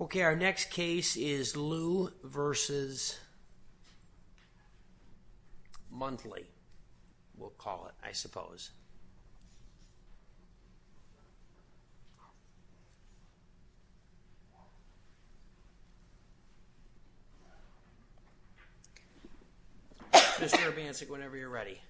Okay, our next case is Liu v. Monthly, we'll call it, I suppose. Mr. Urbancic, whenever you're ready.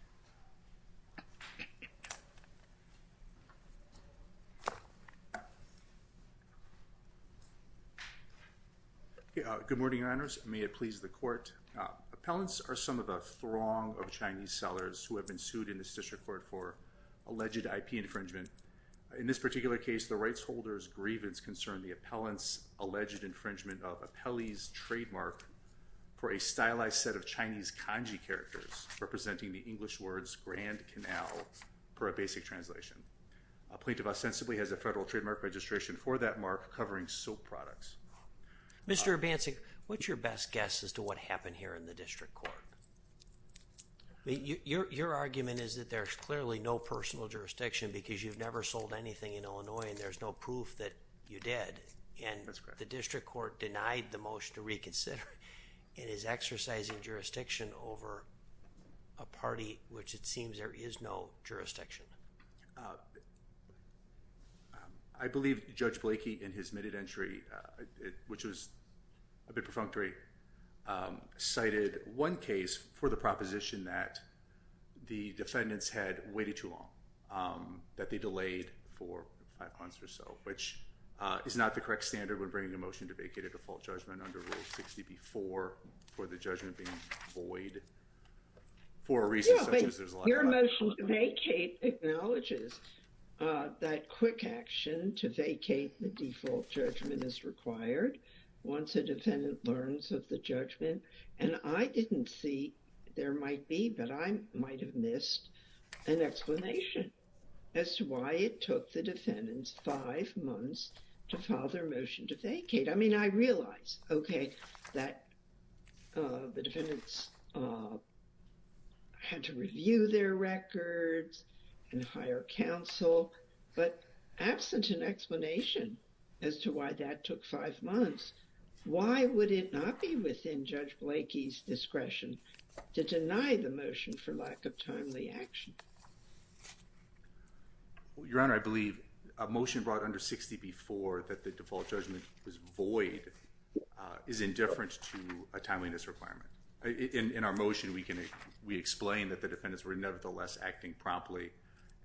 Good morning, your honors. May it please the court. Appellants are some of the throng of Chinese sellers who have been sued in this district court for alleged IP infringement. In this particular case, the rights holders' grievance concern the appellant's alleged infringement of Apelli's trademark for a stylized set of Chinese kanji characters representing the English words Grand Canal, per a basic translation. A plaintiff ostensibly has a federal trademark registration for that mark covering soap products. Mr. Urbancic, what's your best guess as to what happened here in the district court? Your argument is that there's clearly no personal jurisdiction because you've never sold anything in Illinois and there's no proof that you did. And the district court denied the motion to reconsider and is exercising jurisdiction over a party which it seems there is no jurisdiction. I believe Judge Blakey in his admitted entry, which was a bit perfunctory, cited one case for the proposition that the defendants had waited too long. That they delayed for five months or so, which is not the correct standard when bringing a motion to vacate a default judgment under Rule 60B-4 for the judgment being void. Your motion to vacate acknowledges that quick action to vacate the default judgment is required once a defendant learns of the judgment. And I didn't see, there might be, but I might have missed an explanation as to why it took the defendants five months to file their motion to vacate. I mean, I realize, okay, that the defendants had to review their records and hire counsel, but absent an explanation as to why that took five months, why would it not be within Judge Blakey's discretion to deny the motion for lack of timely action? Your Honor, I believe a motion brought under 60B-4 that the default judgment was void is indifferent to a timeliness requirement. In our motion, we explain that the defendants were nevertheless acting promptly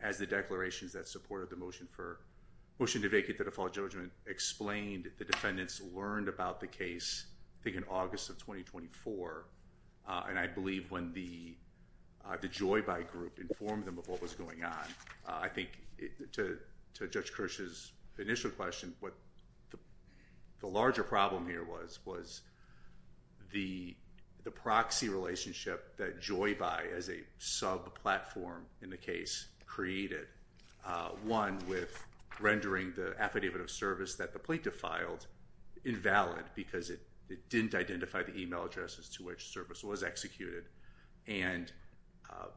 as the declarations that supported the motion for motion to vacate the default judgment explained the defendants learned about the case, I think in August of 2024. And I believe when the Joy Buy group informed them of what was going on, I think to Judge Kirsch's initial question, what the larger problem here was, was the proxy relationship that Joy Buy as a sub-platform in the case created. One with rendering the affidavit of service that the plaintiff filed invalid because it didn't identify the email addresses to which service was executed. And...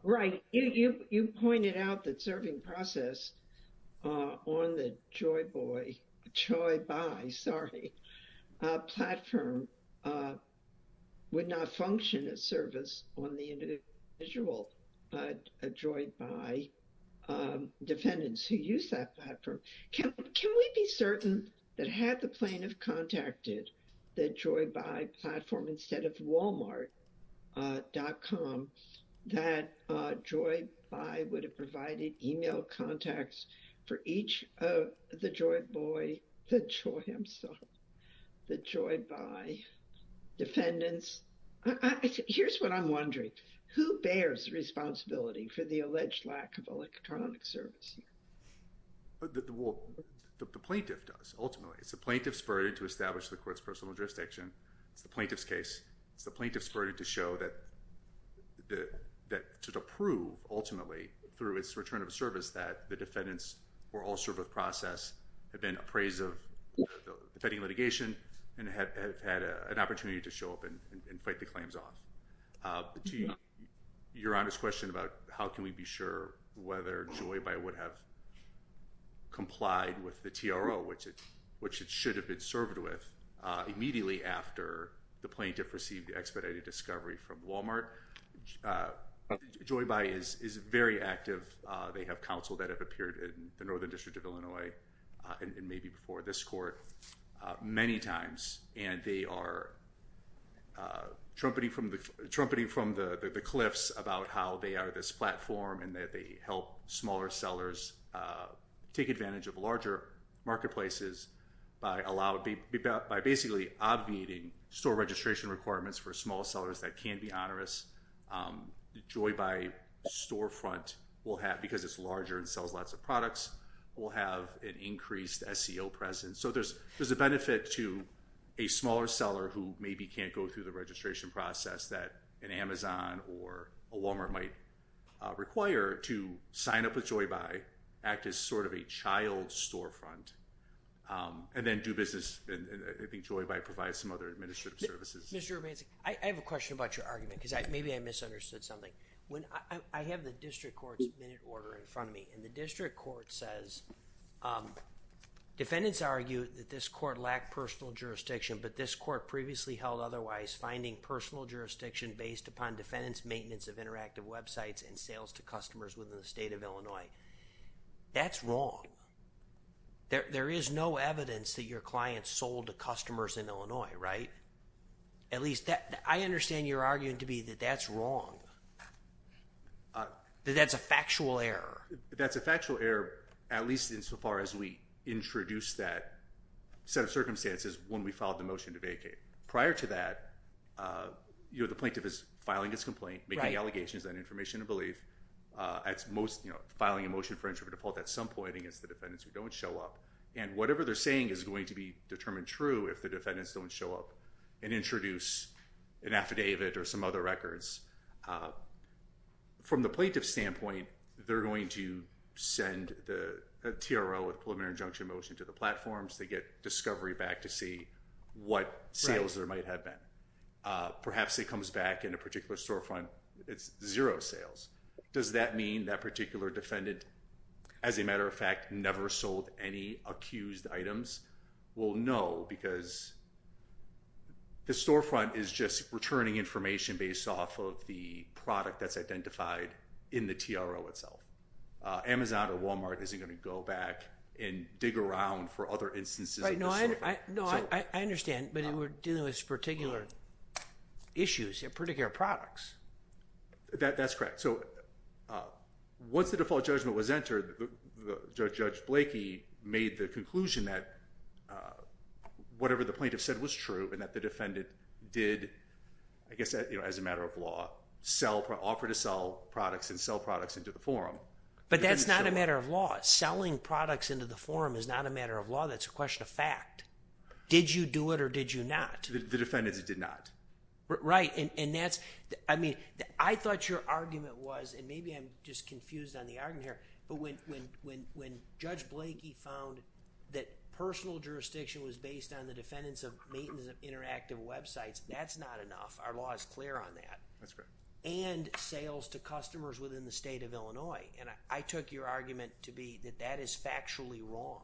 Right. You pointed out that serving process on the Joy Buy platform would not function as service on the individual Joy Buy defendants who use that platform. Can we be certain that had the plaintiff contacted the Joy Buy platform instead of walmart.com, that Joy Buy would have provided email contacts for each of the Joy Boy, the Joy himself, the Joy Buy defendants? Here's what I'm wondering. Who bears responsibility for the alleged lack of electronic service? The plaintiff does, ultimately. It's the plaintiff's burden to establish the court's personal jurisdiction. It's the plaintiff's case. It's the plaintiff's burden to show that... to prove, ultimately, through its return of service that the defendants were all served with process, have been appraised of defending litigation, and have had an opportunity to show up and fight the claims off. To your honest question about how can we be sure whether Joy Buy would have complied with the TRO, which it should have been served with, immediately after the plaintiff received the expedited discovery from Walmart, Joy Buy is very active. They have counsel that have appeared in the Northern District of Illinois and maybe before this court many times. And they are trumpeting from the cliffs about how they are this platform and that they help smaller sellers take advantage of larger marketplaces by basically obviating store registration requirements for small sellers that can be onerous. Joy Buy storefront, because it's larger and sells lots of products, will have an increased SEO presence. So there's a benefit to a smaller seller who maybe can't go through the registration process that an Amazon or a Walmart might require to sign up with Joy Buy, act as sort of a child storefront, and then do business. And I think Joy Buy provides some other administrative services. Mr. Robinson, I have a question about your argument, because maybe I misunderstood something. I have the district court's minute order in front of me. And the district court says, defendants argue that this court lacked personal jurisdiction, but this court previously held otherwise, finding personal jurisdiction based upon defendants' maintenance of interactive websites and sales to customers within the state of Illinois. That's wrong. There is no evidence that your clients sold to customers in Illinois, right? At least, I understand your arguing to me that that's wrong, that that's a factual error. That's a factual error, at least insofar as we introduced that set of circumstances when we filed the motion to vacate. Prior to that, the plaintiff is filing his complaint, making allegations on information and belief, filing a motion for interpretive fault at some point against the defendants who don't show up. And whatever they're saying is going to be determined true if the defendants don't show up. And introduce an affidavit or some other records. From the plaintiff's standpoint, they're going to send a TRO, a preliminary injunction motion, to the platforms. They get discovery back to see what sales there might have been. Perhaps it comes back in a particular storefront. It's zero sales. Does that mean that particular defendant, as a matter of fact, never sold any accused items? Well, no, because the storefront is just returning information based off of the product that's identified in the TRO itself. Amazon or Walmart isn't going to go back and dig around for other instances. No, I understand. But they were dealing with particular issues, particular products. That's correct. Once the default judgment was entered, Judge Blakey made the conclusion that whatever the plaintiff said was true and that the defendant did, as a matter of law, offer to sell products and sell products into the forum. But that's not a matter of law. Selling products into the forum is not a matter of law. That's a question of fact. Did you do it or did you not? The defendant did not. Right. I thought your argument was, and maybe I'm just confused on the argument here, but when Judge Blakey found that personal jurisdiction was based on the defendants of maintenance of interactive websites, that's not enough. Our law is clear on that. That's correct. And sales to customers within the state of Illinois. I took your argument to be that that is factually wrong.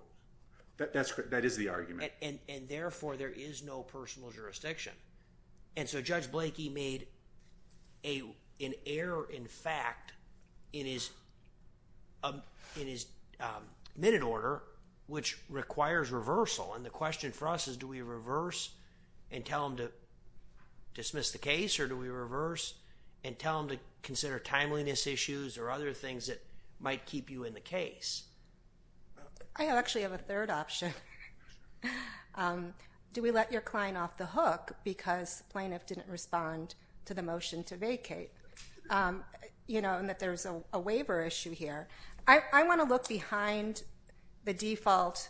That is the argument. And, therefore, there is no personal jurisdiction. And so Judge Blakey made an error in fact in his minute order, which requires reversal. And the question for us is do we reverse and tell him to dismiss the case or do we reverse and tell him to consider timeliness issues or other things that might keep you in the case? I actually have a third option. Do we let your client off the hook because plaintiff didn't respond to the motion to vacate? You know, and that there's a waiver issue here. I want to look behind the default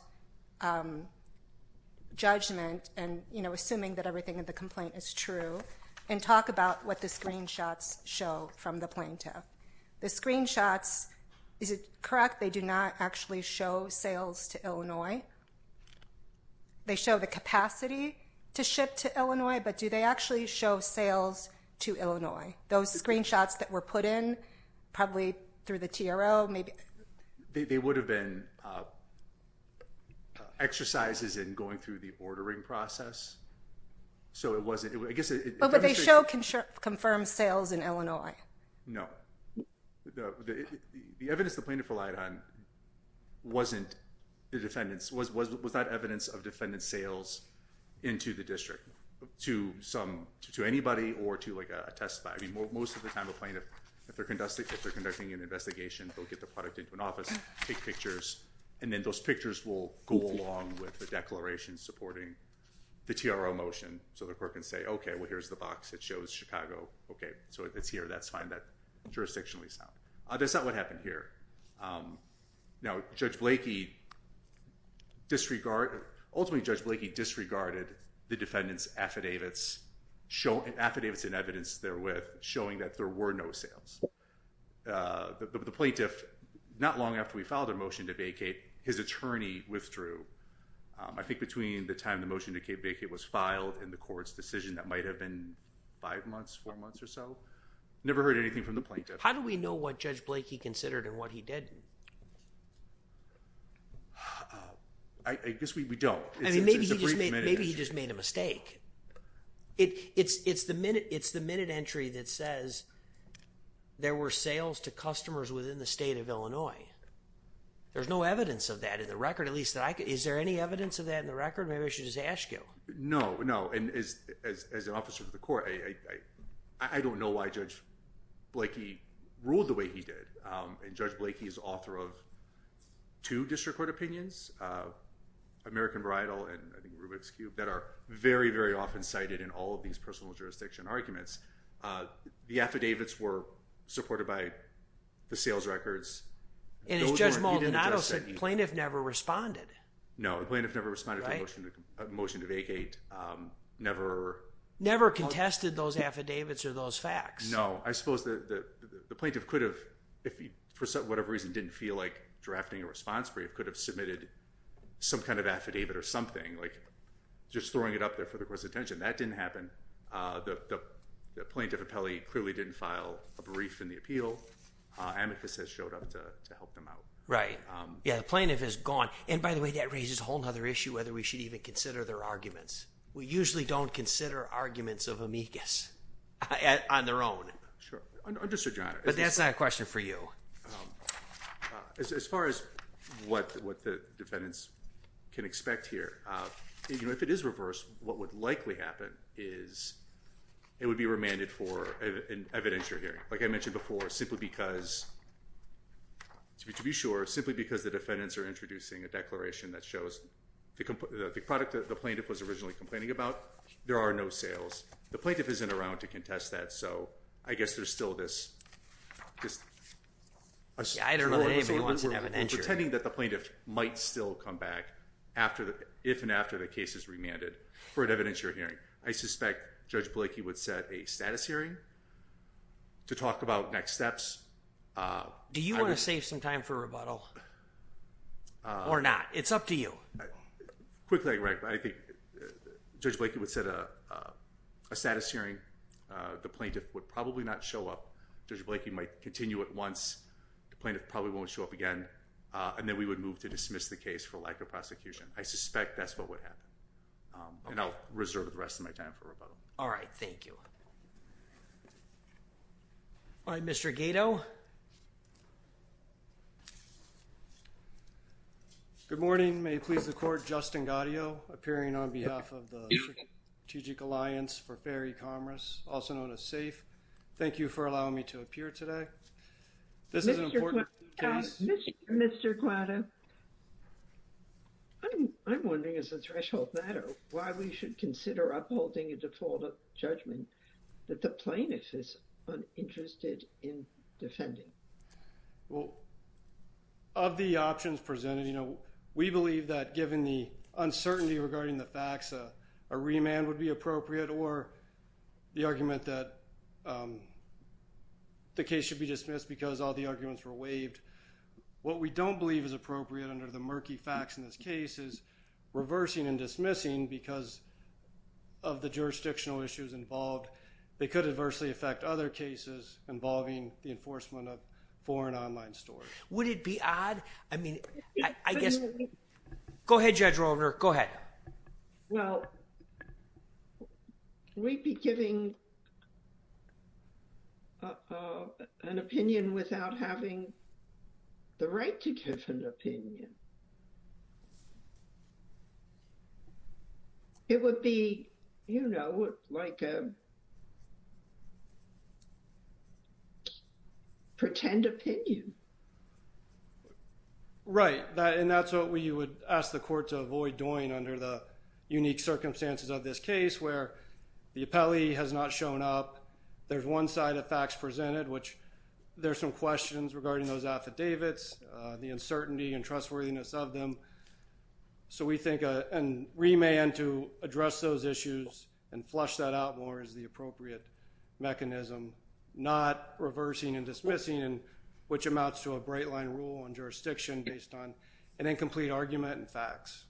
judgment and, you know, assuming that everything in the complaint is true and talk about what the screenshots show from the plaintiff. The screenshots, is it correct they do not actually show sales to Illinois? They show the capacity to ship to Illinois, but do they actually show sales to Illinois? Those screenshots that were put in probably through the TRO, maybe. They would have been exercises in going through the ordering process. So it wasn't. But they show confirmed sales in Illinois. No. The evidence the plaintiff relied on wasn't the defendant's. Was that evidence of defendant's sales into the district to anybody or to, like, a testifier? I mean, most of the time a plaintiff, if they're conducting an investigation, they'll get their product into an office, take pictures, and then those pictures will go along with the declaration supporting the TRO motion. So the court can say, okay, well, here's the box. It shows Chicago. Okay, so it's here. That's fine. That's jurisdictionally sound. That's not what happened here. Now, Judge Blakey disregarded the defendant's affidavits and evidence they're with, showing that there were no sales. The plaintiff, not long after we filed a motion to vacate, his attorney withdrew. I think between the time the motion to vacate was filed and the court's decision that might have been five months, four months or so, never heard anything from the plaintiff. How do we know what Judge Blakey considered and what he didn't? I guess we don't. I mean, maybe he just made a mistake. It's the minute entry that says there were sales to customers within the state of Illinois. There's no evidence of that in the record. Is there any evidence of that in the record? Maybe I should just ask you. No, no. And as an officer to the court, I don't know why Judge Blakey ruled the way he did. And Judge Blakey is author of two district court opinions, American Bridal and I think Rubik's Cube, that are very, very often cited in all of these personal jurisdiction arguments. The affidavits were supported by the sales records. And as Judge Maldonado said, the plaintiff never responded. No, the plaintiff never responded to a motion to vacate. Never contested those affidavits or those facts. I suppose the plaintiff could have, if for whatever reason didn't feel like drafting a response brief, could have submitted some kind of affidavit or something, like just throwing it up there for the court's attention. That didn't happen. The plaintiff clearly didn't file a brief in the appeal. Amicus has showed up to help them out. Right. Yeah, the plaintiff is gone. And by the way, that raises a whole other issue whether we should even consider their arguments. We usually don't consider arguments of Amicus on their own. Sure. But that's not a question for you. As far as what the defendants can expect here, if it is reversed, what would likely happen is it would be remanded for an evidentiary hearing. Like I mentioned before, simply because, to be sure, simply because the defendants are introducing a declaration that shows the product that the plaintiff was originally complaining about, there are no sales. The plaintiff isn't around to contest that, so I guess there's still this… Yeah, I don't know that anybody wants an evidentiary. …pretending that the plaintiff might still come back if and after the case is remanded for an evidentiary hearing. I suspect Judge Blakey would set a status hearing to talk about next steps. Do you want to save some time for rebuttal or not? It's up to you. Quickly, I think Judge Blakey would set a status hearing. The plaintiff would probably not show up. Judge Blakey might continue at once. The plaintiff probably won't show up again. And then we would move to dismiss the case for lack of prosecution. I suspect that's what would happen. And I'll reserve the rest of my time for rebuttal. All right, thank you. All right, Mr. Gato. Good morning. May it please the Court, Justin Gaudio, appearing on behalf of the Strategic Alliance for Fair E-Commerce, also known as SAFE. Thank you for allowing me to appear today. This is an important case. Mr. Guado. I'm wondering as a threshold matter why we should consider upholding a default of judgment that the plaintiff is uninterested in defending. Well, of the options presented, you know, we believe that given the uncertainty regarding the facts, a remand would be appropriate, or the argument that the case should be dismissed because all the arguments were waived. What we don't believe is appropriate under the murky facts in this case is reversing and dismissing because of the jurisdictional issues involved. They could adversely affect other cases involving the enforcement of foreign online stores. Would it be odd? I mean, I guess. Go ahead, Judge Roldner. Go ahead. Well, we'd be giving an opinion without having the right to give an opinion. It would be, you know, like a pretend opinion. Right. And that's what we would ask the court to avoid doing under the unique circumstances of this case where the appellee has not shown up, there's one side of facts presented, which there's some questions regarding those affidavits, the uncertainty and trustworthiness of them. So we think a remand to address those issues and flush that out more is the appropriate mechanism, not reversing and dismissing, which amounts to a bright line rule on jurisdiction based on an incomplete argument and facts.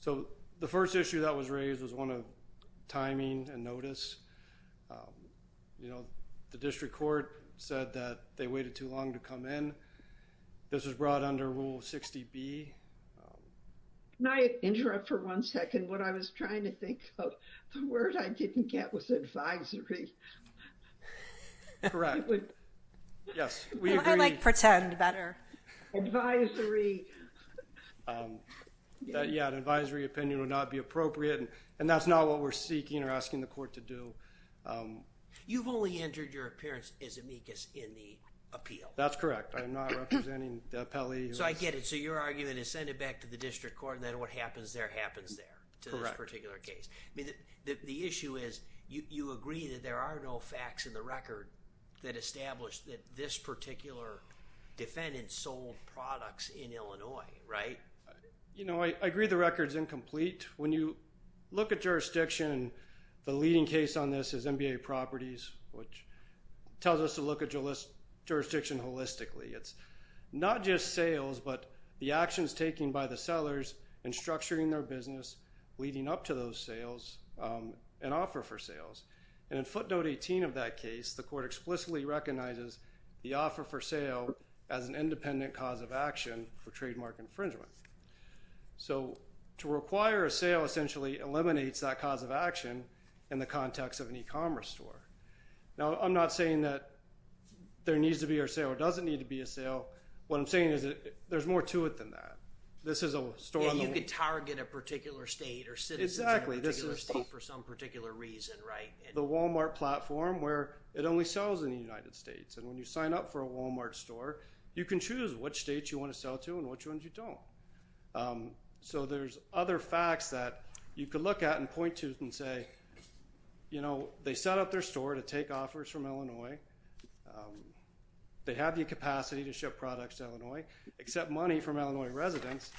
So the first issue that was raised was one of timing and notice. You know, the district court said that they waited too long to come in. This was brought under Rule 60B. Can I interrupt for one second? What I was trying to think of, the word I didn't get was advisory. Correct. Yes, we agree. I like pretend better. Yeah, an advisory opinion would not be appropriate, and that's not what we're seeking or asking the court to do. You've only entered your appearance as amicus in the appeal. That's correct. I'm not representing the appellee. So I get it. So your argument is send it back to the district court, and then what happens there happens there to this particular case. I mean, the issue is you agree that there are no facts in the record that establish that this particular defendant sold products in Illinois, right? You know, I agree the record's incomplete. When you look at jurisdiction, the leading case on this is NBA Properties, which tells us to look at jurisdiction holistically. It's not just sales, but the actions taken by the sellers in structuring their business leading up to those sales and offer for sales. And in footnote 18 of that case, the court explicitly recognizes the offer for sale as an independent cause of action for trademark infringement. So to require a sale essentially eliminates that cause of action in the context of an e-commerce store. Now, I'm not saying that there needs to be a sale or doesn't need to be a sale. What I'm saying is there's more to it than that. This is a store on the wall. You could target a particular state or citizens in a particular state for some particular reason, right? The Walmart platform where it only sells in the United States. And when you sign up for a Walmart store, you can choose which states you want to sell to and which ones you don't. So there's other facts that you could look at and point to and say, you know, they set up their store to take offers from Illinois. They have the capacity to ship products to Illinois, except money from Illinois residents.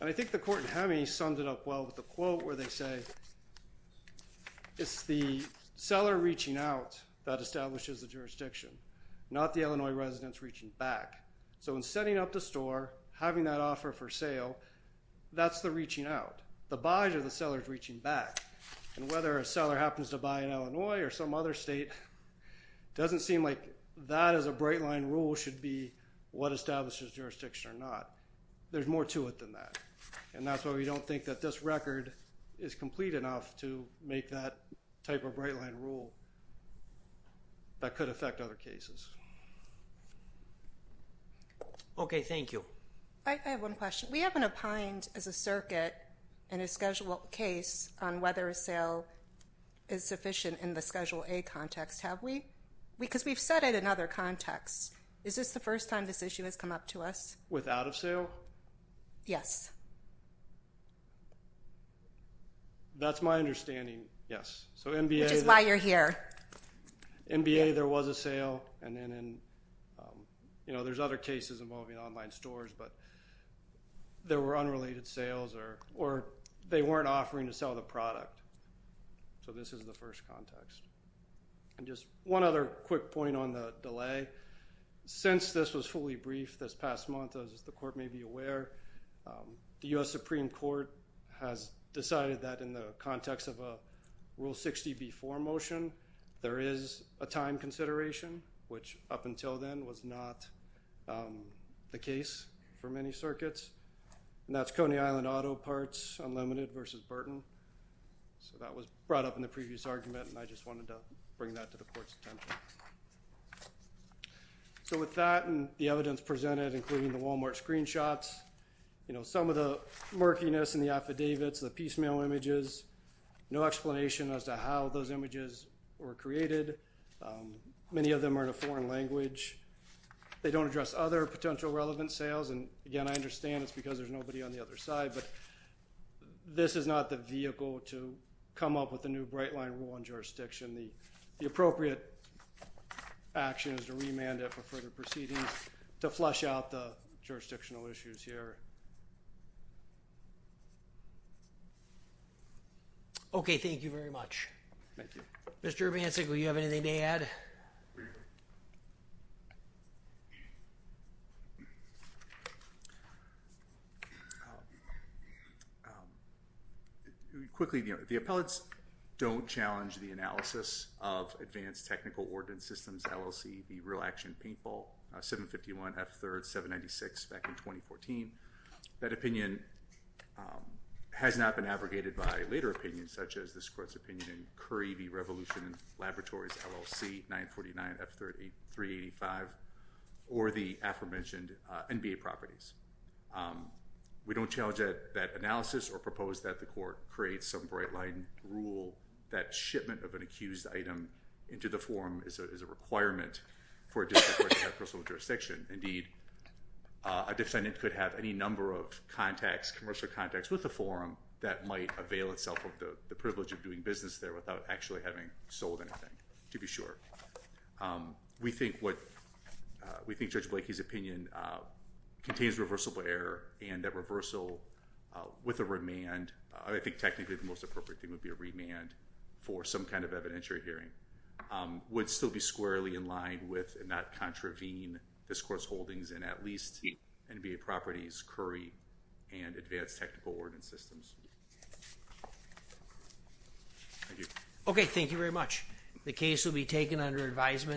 And I think the court in Hemi sums it up well with a quote where they say, it's the seller reaching out that establishes the jurisdiction, not the Illinois residents reaching back. So in setting up the store, having that offer for sale, that's the reaching out. The buys are the sellers reaching back. And whether a seller happens to buy in Illinois or some other state, doesn't seem like that as a bright line rule should be what establishes jurisdiction or not. There's more to it than that. And that's why we don't think that this record is complete enough to make that type of bright line rule that could affect other cases. Okay, thank you. I have one question. We haven't opined as a circuit in a schedule case on whether a sale is sufficient in the Schedule A context, have we? Because we've said it in other contexts. Is this the first time this issue has come up to us? Without a sale? Yes. That's my understanding, yes. Which is why you're here. MBA, there was a sale. And then there's other cases involving online stores. But there were unrelated sales or they weren't offering to sell the product. So this is the first context. And just one other quick point on the delay. Since this was fully briefed this past month, as the court may be aware, the U.S. Supreme Court has decided that in the context of a Rule 60B4 motion, there is a time consideration, which up until then was not the case for many circuits. And that's Coney Island Auto Parts Unlimited versus Burton. So that was brought up in the previous argument, and I just wanted to bring that to the court's attention. So with that and the evidence presented, including the Walmart screenshots, you know, some of the murkiness in the affidavits, the piecemeal images, no explanation as to how those images were created. Many of them are in a foreign language. They don't address other potential relevant sales. And, again, I understand it's because there's nobody on the other side, but this is not the vehicle to come up with a new bright line rule in jurisdiction. The appropriate action is to remand it for further proceedings to flush out the jurisdictional issues here. Okay, thank you very much. Thank you. Mr. Vancic, will you have anything to add? Quickly, the appellates don't challenge the analysis of Advanced Technical Ordinance Systems, LLC, the real action paintball, 751 F3rd 796 back in 2014. That opinion has not been abrogated by later opinions, such as this court's opinion in Curry v. Revolution Laboratories, LLC, 949 F385, or the aforementioned NBA properties. We don't challenge that analysis or propose that the court create some bright line rule that shipment of an accused item into the forum is a requirement for a district court to have personal jurisdiction. Indeed, a defendant could have any number of contacts, commercial contacts with the forum, that might avail itself of the privilege of doing business there without actually having sold anything, to be sure. We think Judge Blakey's opinion contains reversible error and that reversal with a remand, I think technically the most appropriate thing would be a remand for some kind of evidentiary hearing, would still be squarely in line with and not contravene this court's holdings in at least NBA properties, Curry, and Advanced Technical Ordinance Systems. Thank you. Okay, thank you very much. The case will be taken under advisement.